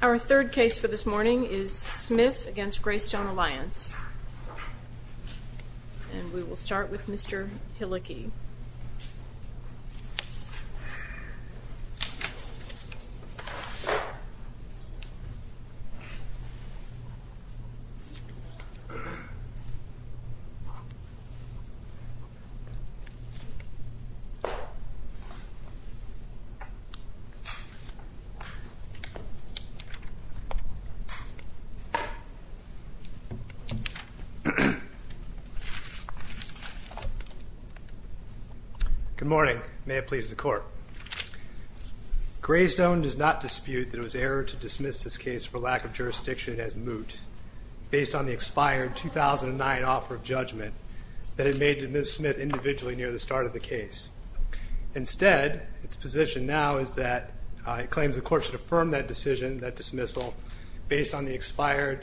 Our third case for this morning is Smith v. Greystone Alliance, and we will start with Good morning. May it please the Court. Greystone does not dispute that it was erroneous to dismiss this case for lack of jurisdiction as moot based on the expired 2009 offer of judgment that it made to Ms. Smith individually near the start of the case. Instead, its position now is that it should be rejected for a number of reasons. First of all, the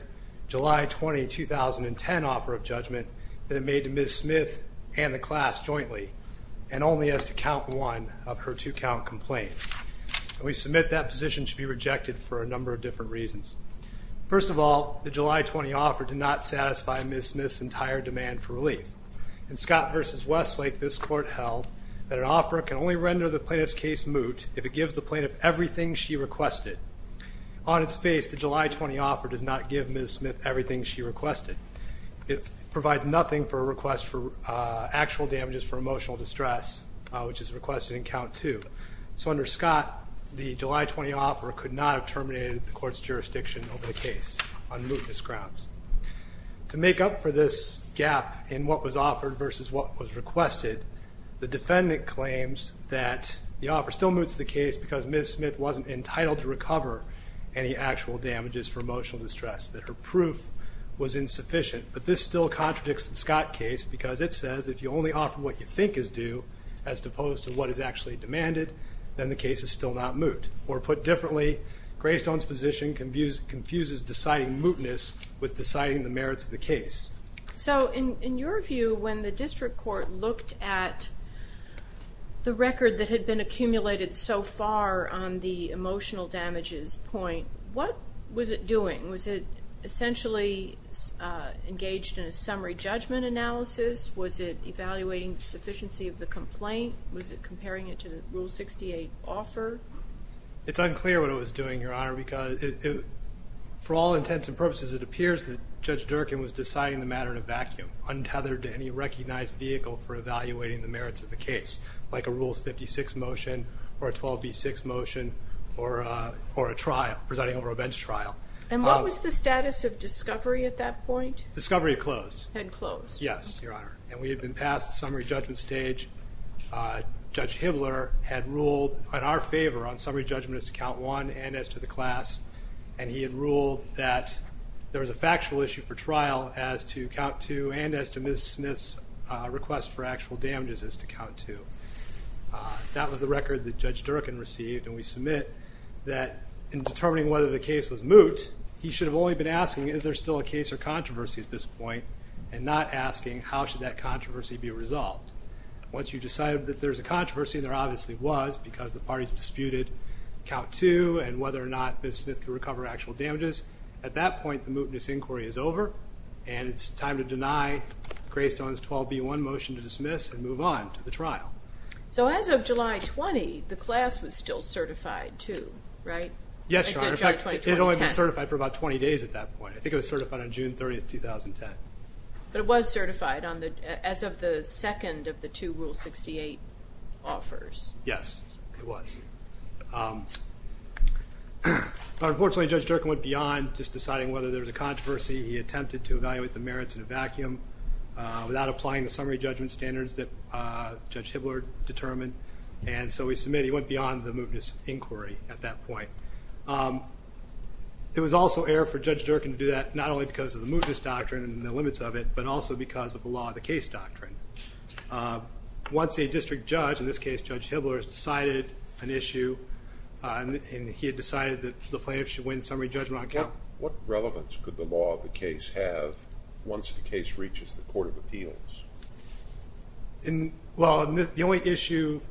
July 20 offer did not satisfy Ms. Smith's entire demand for relief. In Scott v. Westlake, this Court held that an offeror can only render the plaintiff's case moot if it gives the plaintiff everything she requested. On its face, the July 20 offer does not give Ms. Smith everything she requested. It provides nothing for a request for actual damages for emotional distress, which is requested in Count 2. So under Scott, the July 20 offeror could not have terminated the Court's jurisdiction over the case on mootness grounds. To make up for this gap in what was offered versus what was requested, the defendant claims that the offer still moots the case because Ms. Smith wasn't entitled to recover any actual damages for emotional distress, that her proof was insufficient. But this still contradicts the Scott case because it says that if you only offer what you think is due as opposed to what is actually demanded, then the case is still not moot. Or put differently, Greystone's position confuses deciding mootness with deciding the merits of the case. So in your view, when the District Court looked at the record that had been accumulated so far on the emotional damages point, what was it doing? Was it essentially engaged in a summary judgment analysis? Was it evaluating the sufficiency of the complaint? Was it comparing it to the Rule 68 offer? It's unclear what it was doing, Your Honor, because for all intents and purposes, it appears that Judge Durkin was deciding the matter in a vacuum, untethered to any recognized vehicle for evaluating the merits of the case, like a Rules 56 motion or a 12B6 motion or a trial, presiding over a bench trial. And what was the status of discovery at that point? Discovery had closed. And we had been past the summary judgment stage. Judge Hibbler had ruled in our favor on summary judgment as to Count 1 and as to the class. And he had ruled that there was a factual issue for trial as to Count 2 and as to Ms. Smith's request for actual damages as to Count 2. That was the record that Judge Durkin received, and we submit that in determining whether the case was moot, he should have only been asking, is there still a case or controversy at this point, and not asking, how should that controversy be resolved? Once you've decided that there's a controversy, and there obviously was because the parties disputed Count 2 and whether or not Ms. Smith could recover actual damages, at that point, the mootness inquiry is over, and it's time to deny Graystone's 12B1 motion to dismiss and move on to the trial. So as of July 20, the class was still certified, too, right? Yes, Your Honor. In fact, it had only been certified for about 20 days at that point. I think it was certified on June 30, 2010. But it was certified as of the second of the two Rule 68 offers. Yes, it was. Unfortunately, Judge Durkin went beyond just deciding whether there was a controversy. He attempted to evaluate the merits in a vacuum without applying the summary judgment standards that Judge Hibbler determined. And so we submit he went beyond the mootness inquiry at that point. It was also error for Judge Durkin to do that, not only because of the mootness doctrine and the limits of it, but also because of the law of the case doctrine. Once a district judge, in this case Judge Hibbler, has decided an issue, and he had decided that the plaintiffs should win summary judgment on count... What relevance could the law of the case have once the case reaches the Court of Appeals? Well, the only issue...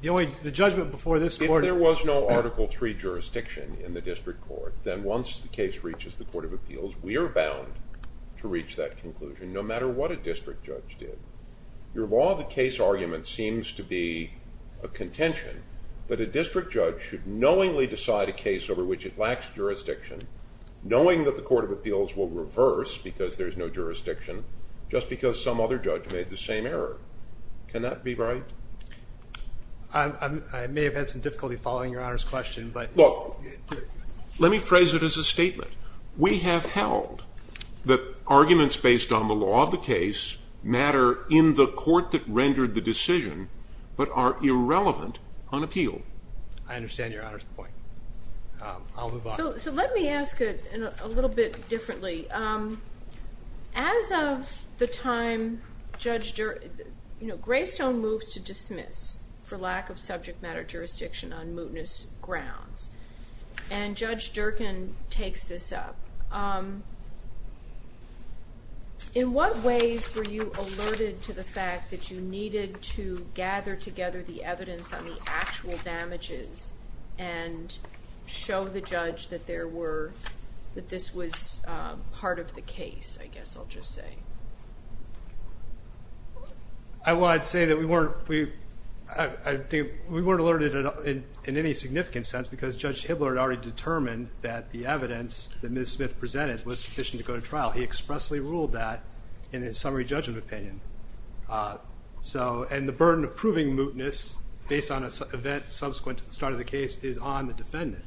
the judgment before this Court... If there was no Article III jurisdiction in the district court, then once the case reaches the Court of Appeals, we are bound to reach that conclusion, no matter what a district judge did. Your law of the case argument seems to be a contention, but a district judge should knowingly decide a case over which it lacks jurisdiction, knowing that the Court of Appeals will reverse because there is no jurisdiction, just because some other judge made the same error. Can that be right? I may have had some difficulty following Your Honor's question, but... Look, let me phrase it as a statement. We have held that arguments based on the law of the case matter in the court that rendered the decision, but are irrelevant on appeal. I understand Your Honor's point. I'll move on. So let me ask it a little bit differently. As of the time Judge Durkin... You know, Greystone moves to dismiss for lack of subject matter jurisdiction on mootness grounds. And Judge Durkin takes this up. In what ways were you alerted to the fact that you needed to gather together the evidence on the actual damages and show the judge that this was part of the case, I guess I'll just say? Well, I'd say that we weren't alerted in any significant sense, because Judge Hibbler had already determined that the evidence that Ms. Smith presented, was sufficient to go to trial. He expressly ruled that in his summary judgment opinion. And the burden of proving mootness based on an event subsequent to the start of the case is on the defendant.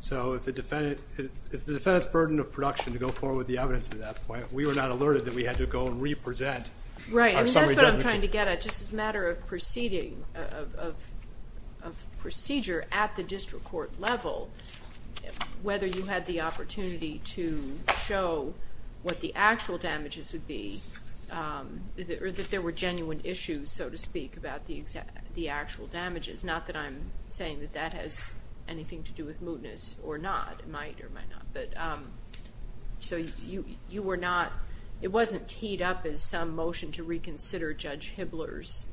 So if the defendant's burden of production to go forward with the evidence at that point, we were not alerted that we had to go and re-present our summary judgment. Right, and that's what I'm trying to get at. Just as a matter of proceeding, of procedure at the district court level, whether you had the opportunity to show what the actual damages would be, or that there were genuine issues, so to speak, about the actual damages. Not that I'm saying that that has anything to do with mootness or not. It might or might not. So you were not, it wasn't teed up as some motion to reconsider Judge Hibbler's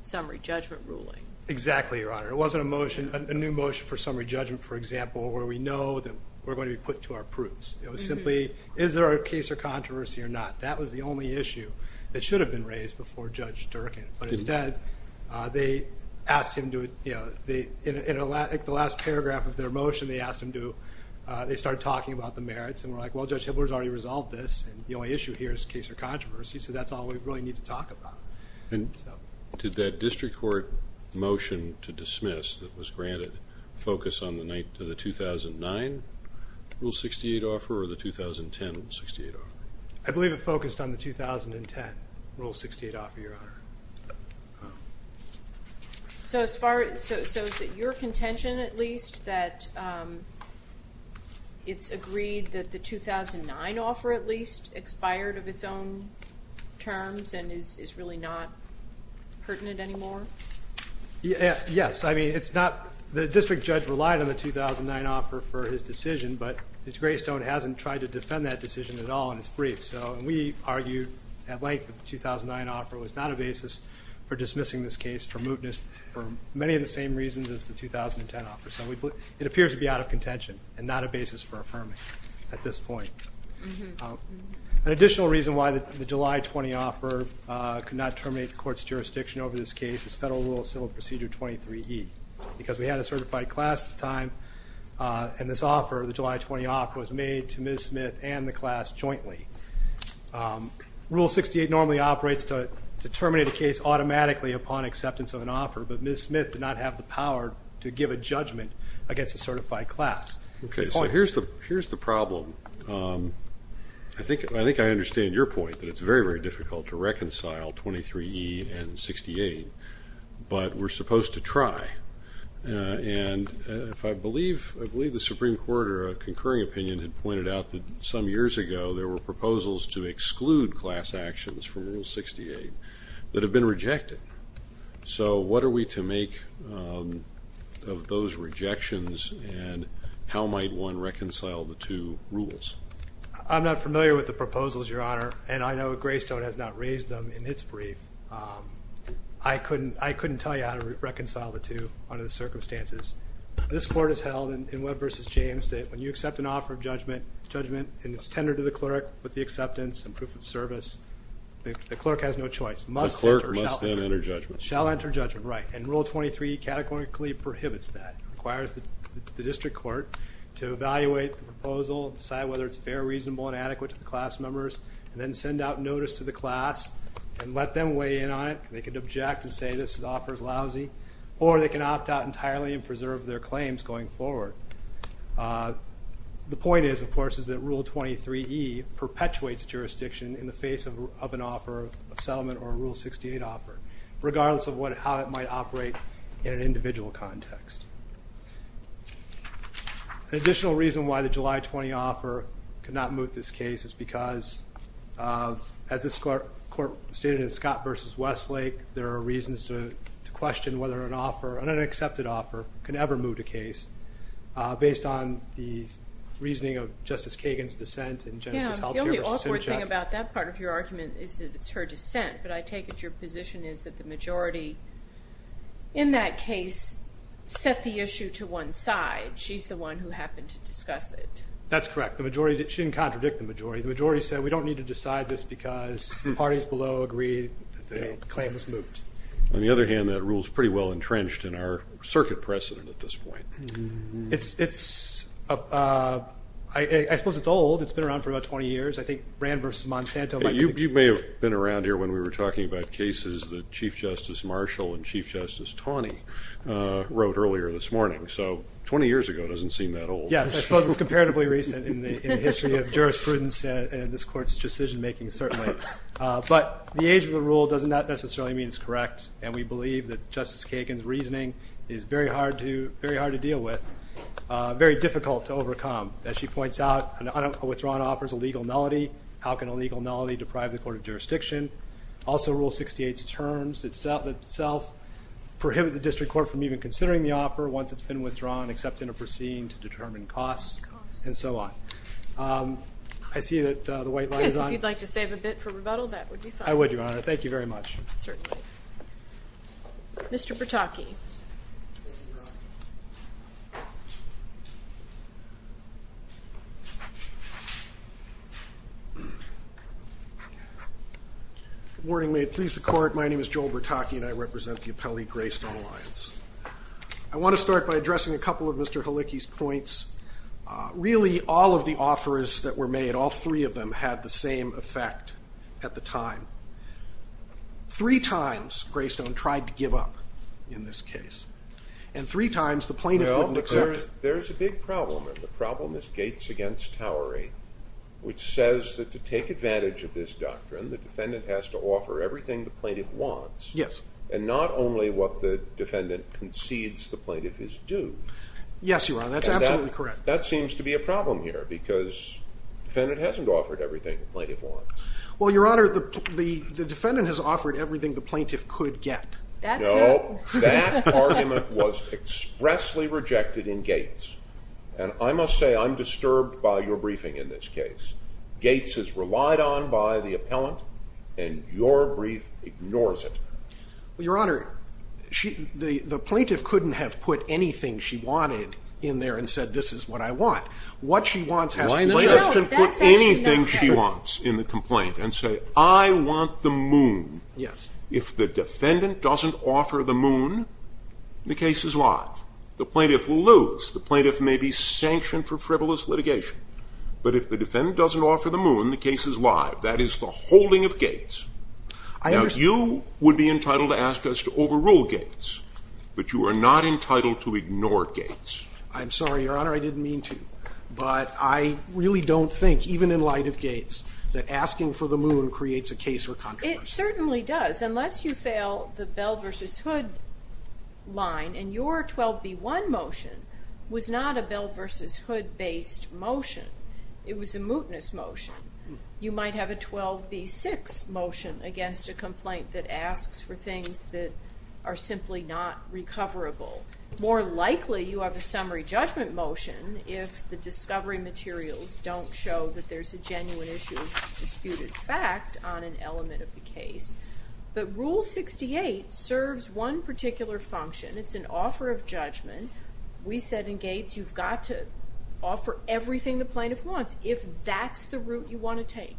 summary judgment ruling. Exactly, Your Honor. It wasn't a motion, a new motion for summary judgment, for example, where we know that we're going to be put to our proofs. It was simply, is there a case of controversy or not? That was the only issue that should have been raised before Judge Durkin. But instead, they asked him to, you know, in the last paragraph of their motion, they asked him to, they started talking about the merits. And we're like, well, Judge Hibbler's already resolved this, and the only issue here is case or controversy. So that's all we really need to talk about. And did that district court motion to dismiss that was granted focus on the 2009 Rule 68 offer or the 2010 Rule 68 offer? I believe it focused on the 2010 Rule 68 offer, Your Honor. So is it your contention, at least, that it's agreed that the 2009 offer, at least, and is really not pertinent anymore? Yes. I mean, it's not, the district judge relied on the 2009 offer for his decision, but the Greystone hasn't tried to defend that decision at all in its brief. So we argued at length that the 2009 offer was not a basis for dismissing this case for mootness for many of the same reasons as the 2010 offer. So it appears to be out of contention and not a basis for affirming at this point. An additional reason why the July 20 offer could not terminate the court's jurisdiction over this case is Federal Rule of Civil Procedure 23E, because we had a certified class at the time, and this offer, the July 20 offer, was made to Ms. Smith and the class jointly. Rule 68 normally operates to terminate a case automatically upon acceptance of an offer, but Ms. Smith did not have the power to give a judgment against a certified class. Okay, so here's the problem. I think I understand your point, that it's very, very difficult to reconcile 23E and 68, but we're supposed to try. And I believe the Supreme Court or a concurring opinion had pointed out that some years ago there were proposals to exclude class actions from Rule 68 that have been rejected. So what are we to make of those rejections, and how might one reconcile the two rules? I'm not familiar with the proposals, Your Honor, and I know Greystone has not raised them in its brief. I couldn't tell you how to reconcile the two under the circumstances. This Court has held in Webb v. James that when you accept an offer of judgment and it's tendered to the clerk with the acceptance and proof of service, the clerk has no choice. The clerk must then enter judgment. Shall enter judgment, right. And Rule 23E categorically prohibits that. It requires the district court to evaluate the proposal, decide whether it's fair, reasonable, and adequate to the class members, and then send out notice to the class and let them weigh in on it. They can object and say this offer is lousy, or they can opt out entirely and preserve their claims going forward. The point is, of course, is that Rule 23E perpetuates jurisdiction in the face of an offer of settlement or a Rule 68 offer, regardless of how it might operate in an individual context. An additional reason why the July 20 offer could not move this case is because, as this Court stated in Scott v. Westlake, there are reasons to question whether an offer, could ever move the case based on the reasoning of Justice Kagan's dissent in Genesis Health Care v. Cynchak. The only awkward thing about that part of your argument is that it's her dissent, but I take it your position is that the majority in that case set the issue to one side. She's the one who happened to discuss it. That's correct. She didn't contradict the majority. The majority said we don't need to decide this because the parties below agree that the claim was moved. On the other hand, that rule is pretty well entrenched in our circuit precedent at this point. I suppose it's old. It's been around for about 20 years. I think Rand v. Monsanto might be… You may have been around here when we were talking about cases that Chief Justice Marshall and Chief Justice Taney wrote earlier this morning, so 20 years ago doesn't seem that old. Yes, I suppose it's comparatively recent in the history of jurisprudence and this Court's decision-making, certainly. But the age of the rule doesn't necessarily mean it's correct, and we believe that Justice Kagan's reasoning is very hard to deal with, very difficult to overcome. As she points out, a withdrawn offer is a legal nullity. How can a legal nullity deprive the court of jurisdiction? Also, Rule 68's terms itself prohibit the district court from even considering the offer once it's been withdrawn except in a proceeding to determine costs and so on. I see that the white line is on. Yes, if you'd like to save a bit for rebuttal, that would be fine. I would, Your Honor. Thank you very much. Certainly. Mr. Bertocchi. Good morning. May it please the Court. My name is Joel Bertocchi, and I represent the appellee Graystone Alliance. I want to start by addressing a couple of Mr. Halicki's points. Really, all of the offers that were made, all three of them, had the same effect at the time. Three times Graystone tried to give up in this case, and three times the plaintiff wouldn't accept it. There's a big problem, and the problem is Gates v. Towery, which says that to take advantage of this doctrine, the defendant has to offer everything the plaintiff wants, and not only what the defendant concedes the plaintiff is due. Yes, Your Honor, that's absolutely correct. That seems to be a problem here, because the defendant hasn't offered everything the plaintiff wants. Well, Your Honor, the defendant has offered everything the plaintiff could get. That's it. No, that argument was expressly rejected in Gates. And I must say, I'm disturbed by your briefing in this case. Gates is relied on by the appellant, and your brief ignores it. Well, Your Honor, the plaintiff couldn't have put anything she wanted in there and said, this is what I want. What she wants has to be there. The plaintiff can put anything she wants in the complaint and say, I want the moon. Yes. If the defendant doesn't offer the moon, the case is live. The plaintiff will lose. The plaintiff may be sanctioned for frivolous litigation. But if the defendant doesn't offer the moon, the case is live. That is the holding of Gates. I understand. You would be entitled to ask us to overrule Gates. But you are not entitled to ignore Gates. I'm sorry, Your Honor, I didn't mean to. But I really don't think, even in light of Gates, that asking for the moon creates a case or controversy. It certainly does, unless you fail the Bell v. Hood line. And your 12b-1 motion was not a Bell v. Hood-based motion. It was a mootness motion. You might have a 12b-6 motion against a complaint that asks for things that are simply not recoverable. More likely you have a summary judgment motion if the discovery materials don't show that there's a genuine issue of disputed fact on an element of the case. But Rule 68 serves one particular function. It's an offer of judgment. We said in Gates you've got to offer everything the plaintiff wants. If that's the route you want to take.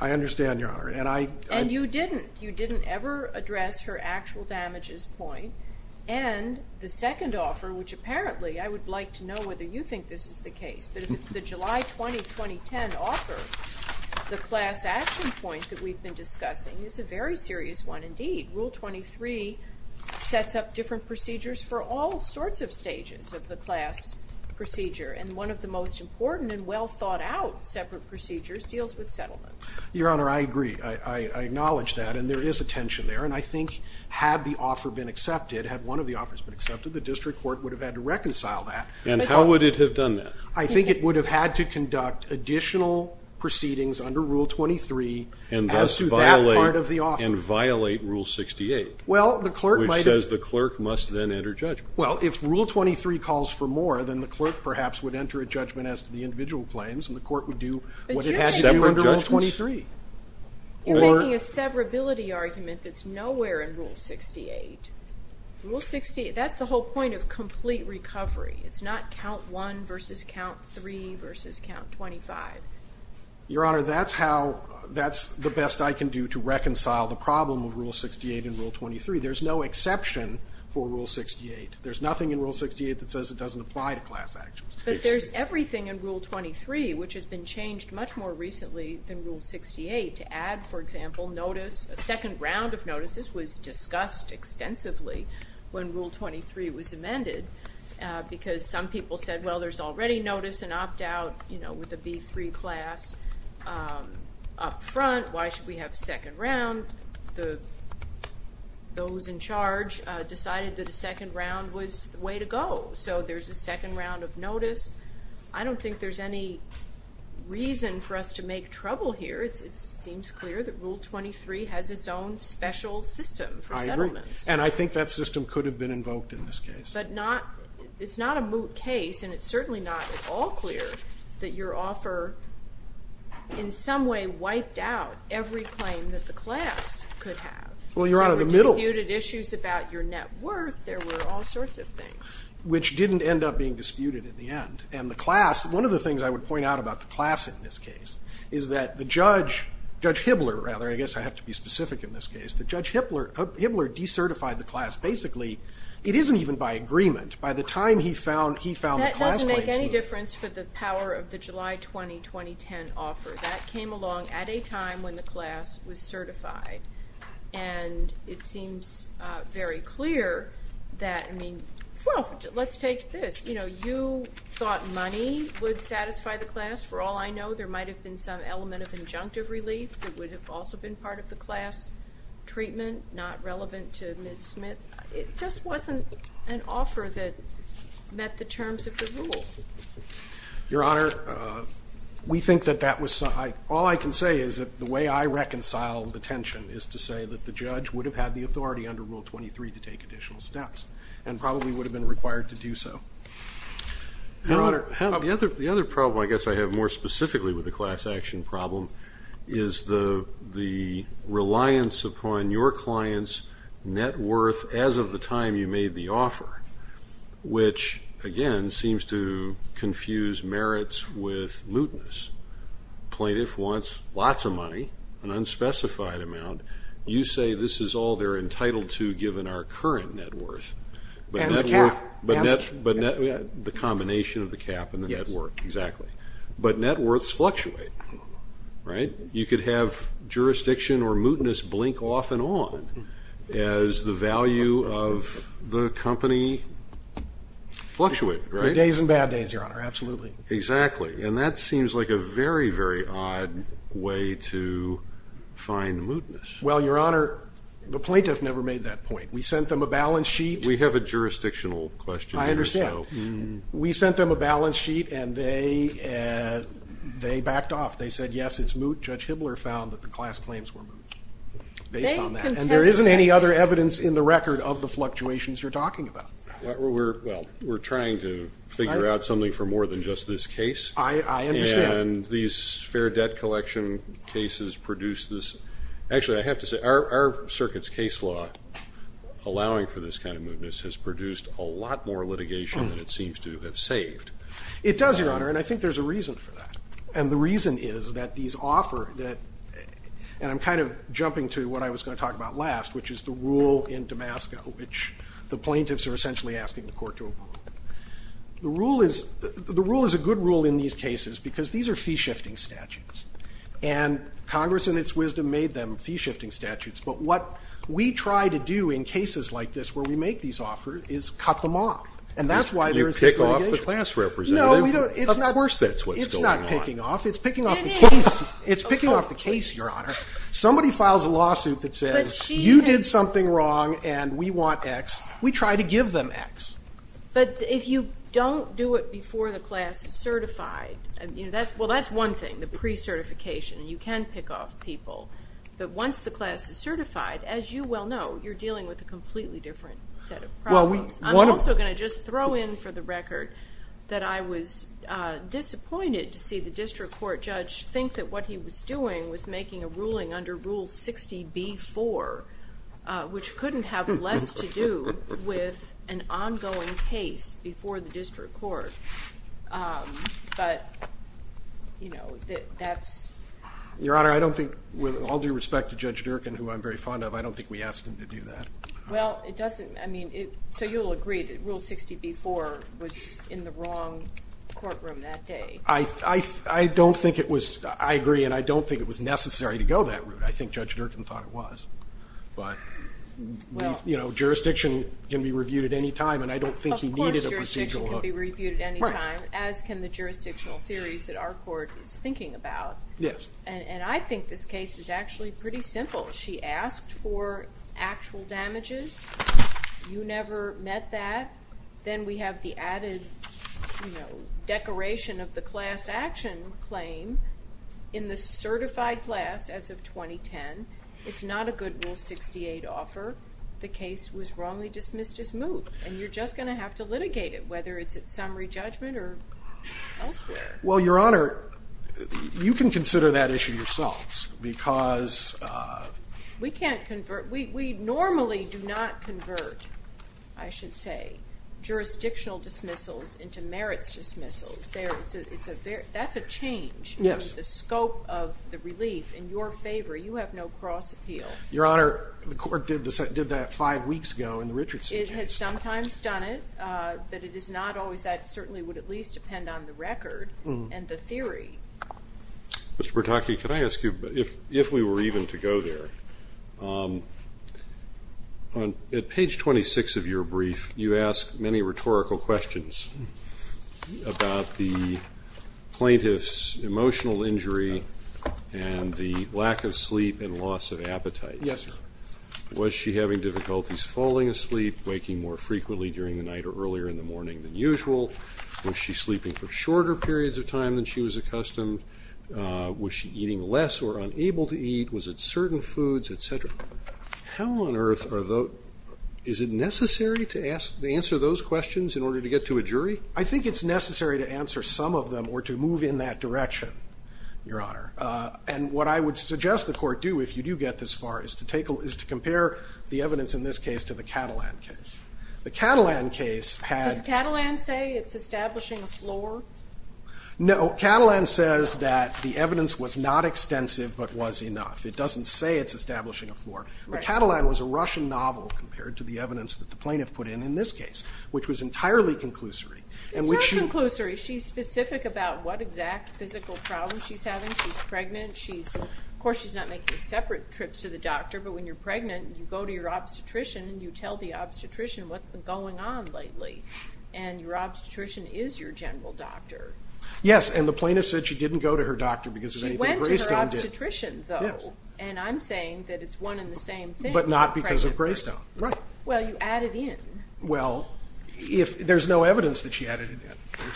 I understand, Your Honor. And you didn't. You didn't ever address her actual damages point. And the second offer, which apparently I would like to know whether you think this is the case, but if it's the July 20, 2010 offer, the class action point that we've been discussing is a very serious one indeed. Rule 23 sets up different procedures for all sorts of stages of the class procedure. And one of the most important and well thought out separate procedures deals with settlements. Your Honor, I agree. I acknowledge that. And there is a tension there. And I think had the offer been accepted, had one of the offers been accepted, the district court would have had to reconcile that. And how would it have done that? I think it would have had to conduct additional proceedings under Rule 23 as to that part of the offer. And violate Rule 68. Well, the clerk might have. Which says the clerk must then enter judgment. Well, if Rule 23 calls for more, then the clerk perhaps would enter a judgment as to the individual claims. And the court would do what it has to do under Rule 23. You're making a severability argument that's nowhere in Rule 68. Rule 68, that's the whole point of complete recovery. It's not count 1 versus count 3 versus count 25. Your Honor, that's how, that's the best I can do to reconcile the problem of Rule 68 and Rule 23. There's no exception for Rule 68. There's nothing in Rule 68 that says it doesn't apply to class actions. But there's everything in Rule 23 which has been changed much more recently than Rule 68. To add, for example, notice, a second round of notices was discussed extensively when Rule 23 was amended. Because some people said, well, there's already notice and opt out, you know, with the B3 class up front. Why should we have a second round? Those in charge decided that a second round was the way to go. So there's a second round of notice. I don't think there's any reason for us to make trouble here. It seems clear that Rule 23 has its own special system for settlements. I agree. And I think that system could have been invoked in this case. But it's not a moot case. And it's certainly not at all clear that your offer in some way wiped out every claim that the class could have. Well, Your Honor, the middle. There were disputed issues about your net worth. There were all sorts of things. Which didn't end up being disputed in the end. And the class, one of the things I would point out about the class in this case is that the judge, Judge Hibbler, rather. I guess I have to be specific in this case. That Judge Hibbler decertified the class. Basically, it isn't even by agreement. By the time he found the class claims. That doesn't make any difference for the power of the July 20, 2010 offer. That came along at a time when the class was certified. And it seems very clear that, I mean, well, let's take this. You know, you thought money would satisfy the class. For all I know, there might have been some element of injunctive relief that would have also been part of the class. Treatment not relevant to Ms. Smith. It just wasn't an offer that met the terms of the rule. Your Honor, we think that that was. All I can say is that the way I reconcile the tension is to say that the judge would have had the authority under Rule 23 to take additional steps. And probably would have been required to do so. Your Honor. The other problem I guess I have more specifically with the class action problem is the reliance upon your client's net worth as of the time you made the offer. Which, again, seems to confuse merits with mootness. Plaintiff wants lots of money. An unspecified amount. You say this is all they're entitled to given our current net worth. And the cap. The combination of the cap and the net worth. Exactly. But net worths fluctuate. Right? You could have jurisdiction or mootness blink off and on as the value of the company fluctuated. Days and bad days, Your Honor. Absolutely. Exactly. And that seems like a very, very odd way to find mootness. Well, Your Honor, the plaintiff never made that point. We sent them a balance sheet. We have a jurisdictional question here. I understand. We sent them a balance sheet and they backed off. They said, yes, it's moot. Judge Hibbler found that the class claims were moot based on that. And there isn't any other evidence in the record of the fluctuations you're talking about. We're trying to figure out something for more than just this case. I understand. And these fair debt collection cases produce this. Actually, I have to say, our circuit's case law allowing for this kind of mootness has produced a lot more litigation than it seems to have saved. It does, Your Honor. And I think there's a reason for that. And the reason is that these offer that, and I'm kind of jumping to what I was going to talk about last, which is the rule in Damascus, which the plaintiffs are essentially asking the court to approve. The rule is a good rule in these cases because these are fee-shifting statutes. And Congress, in its wisdom, made them fee-shifting statutes. But what we try to do in cases like this where we make these offers is cut them off. And that's why there is this litigation. You pick off the class representative. No, we don't. Of course that's what's going on. It's not picking off. It's picking off the case. It is. It's picking off the case, Your Honor. Somebody files a lawsuit that says you did something wrong and we want X. We try to give them X. But if you don't do it before the class is certified, you know, that's one thing, the pre-certification. You can pick off people. But once the class is certified, as you well know, you're dealing with a completely different set of problems. I'm also going to just throw in for the record that I was disappointed to see the district court judge think that what he was doing was making a ruling under Rule 60B-4, which couldn't have less to do with an ongoing case before the district court. But, you know, that's – Your Honor, I don't think – with all due respect to Judge Durkan, who I'm very fond of, I don't think we asked him to do that. Well, it doesn't – I mean, so you'll agree that Rule 60B-4 was in the wrong courtroom that day. I don't think it was – I agree and I don't think it was necessary to go that route. I think Judge Durkan thought it was. But, you know, jurisdiction can be reviewed at any time and I don't think he needed a procedural hook. It can be reviewed at any time, as can the jurisdictional theories that our court is thinking about. Yes. And I think this case is actually pretty simple. She asked for actual damages. You never met that. Then we have the added, you know, decoration of the class action claim in the certified class as of 2010. It's not a good Rule 68 offer. The case was wrongly dismissed as moot and you're just going to have to litigate it, whether it's at summary judgment or elsewhere. Well, Your Honor, you can consider that issue yourselves because – We can't convert – we normally do not convert, I should say, jurisdictional dismissals into merits dismissals. That's a change in the scope of the relief in your favor. You have no cross appeal. Your Honor, the court did that five weeks ago in the Richardson case. It has sometimes done it, but it is not always that. It certainly would at least depend on the record and the theory. Mr. Bertocchi, can I ask you, if we were even to go there, at page 26 of your brief you ask many rhetorical questions about the plaintiff's emotional injury and the lack of sleep and loss of appetite. Yes, Your Honor. Was she having difficulties falling asleep, waking more frequently during the night or earlier in the morning than usual? Was she sleeping for shorter periods of time than she was accustomed? Was she eating less or unable to eat? Was it certain foods, et cetera? How on earth are those – is it necessary to answer those questions in order to get to a jury? I think it's necessary to answer some of them or to move in that direction, Your Honor. And what I would suggest the court do, if you do get this far, is to take – is to compare the evidence in this case to the Catalan case. The Catalan case had – Does Catalan say it's establishing a floor? No. Catalan says that the evidence was not extensive but was enough. It doesn't say it's establishing a floor. Right. But Catalan was a Russian novel compared to the evidence that the plaintiff put in in this case, which was entirely conclusory. It's not conclusory. She's specific about what exact physical problems she's having. She's pregnant. She's – of course, she's not making separate trips to the doctor, but when you're pregnant, you go to your obstetrician and you tell the obstetrician what's been going on lately. And your obstetrician is your general doctor. Yes. And the plaintiff said she didn't go to her doctor because of anything Greystone did. She went to her obstetrician, though. Yes. And I'm saying that it's one and the same thing. But not because of Greystone. Right. Well, you added in. Well, if – there's no evidence that she added in.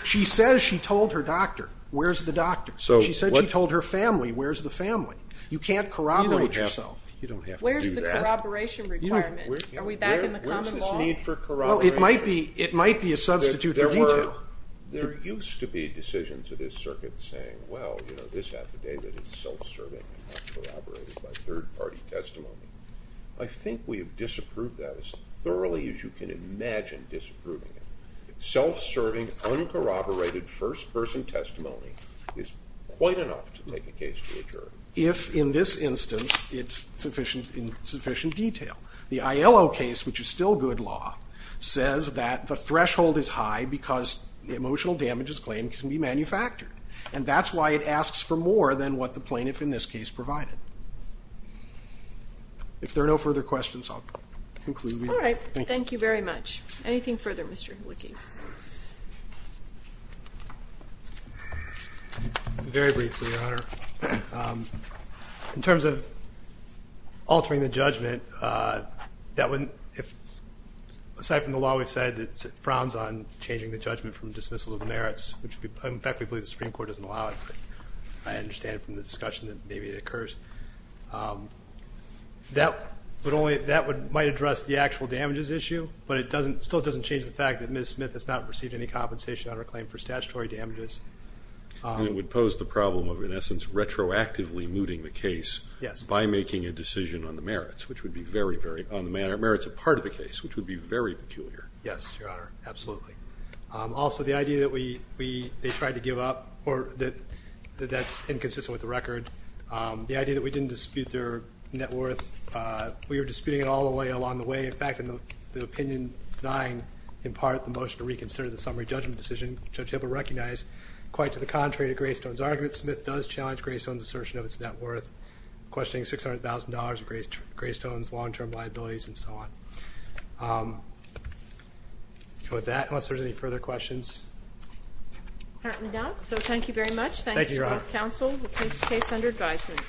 She says she told her doctor. Where's the doctor? She said she told her family. Where's the family? You can't corroborate yourself. You don't have to do that. Where's the corroboration requirement? Are we back in the common law? Where's this need for corroboration? Well, it might be a substitute for detail. There were – there used to be decisions of this circuit saying, well, you know, this affidavit is self-serving and not corroborated by third-party testimony. I think we have disapproved that as thoroughly as you can imagine disapproving it. Self-serving, uncorroborated first-person testimony is quite enough to make a case to the jury. If, in this instance, it's sufficient detail. The ILO case, which is still good law, says that the threshold is high because emotional damage is claimed to be manufactured. And that's why it asks for more than what the plaintiff in this case provided. If there are no further questions, I'll conclude here. All right. Thank you very much. Anything further, Mr. Hlicky? Very briefly, Your Honor. In terms of altering the judgment, aside from the law, we've said it frowns on changing the judgment from dismissal of the merits, which in fact we believe the Supreme Court doesn't allow it. I understand from the discussion that maybe it occurs. That might address the actual damages issue, but it still doesn't change the fact that Ms. Smith has not received any compensation on her claim for statutory damages. It would pose the problem of, in essence, retroactively mooting the case by making a decision on the merits, which would be very peculiar. Yes, Your Honor, absolutely. Also, the idea that they tried to give up or that that's inconsistent with the record, the idea that we didn't dispute their net worth, we were disputing it all the way along the way. In fact, in the opinion denying, in part, the motion to reconsider the summary judgment decision, Judge Hipple recognized, quite to the contrary to Greystone's argument, Smith does challenge Greystone's assertion of its net worth, questioning $600,000 of Greystone's long-term liabilities and so on. With that, unless there's any further questions. Apparently not, so thank you very much. Thank you, Your Honor. Thanks to both counsel. We'll take the case under advisement.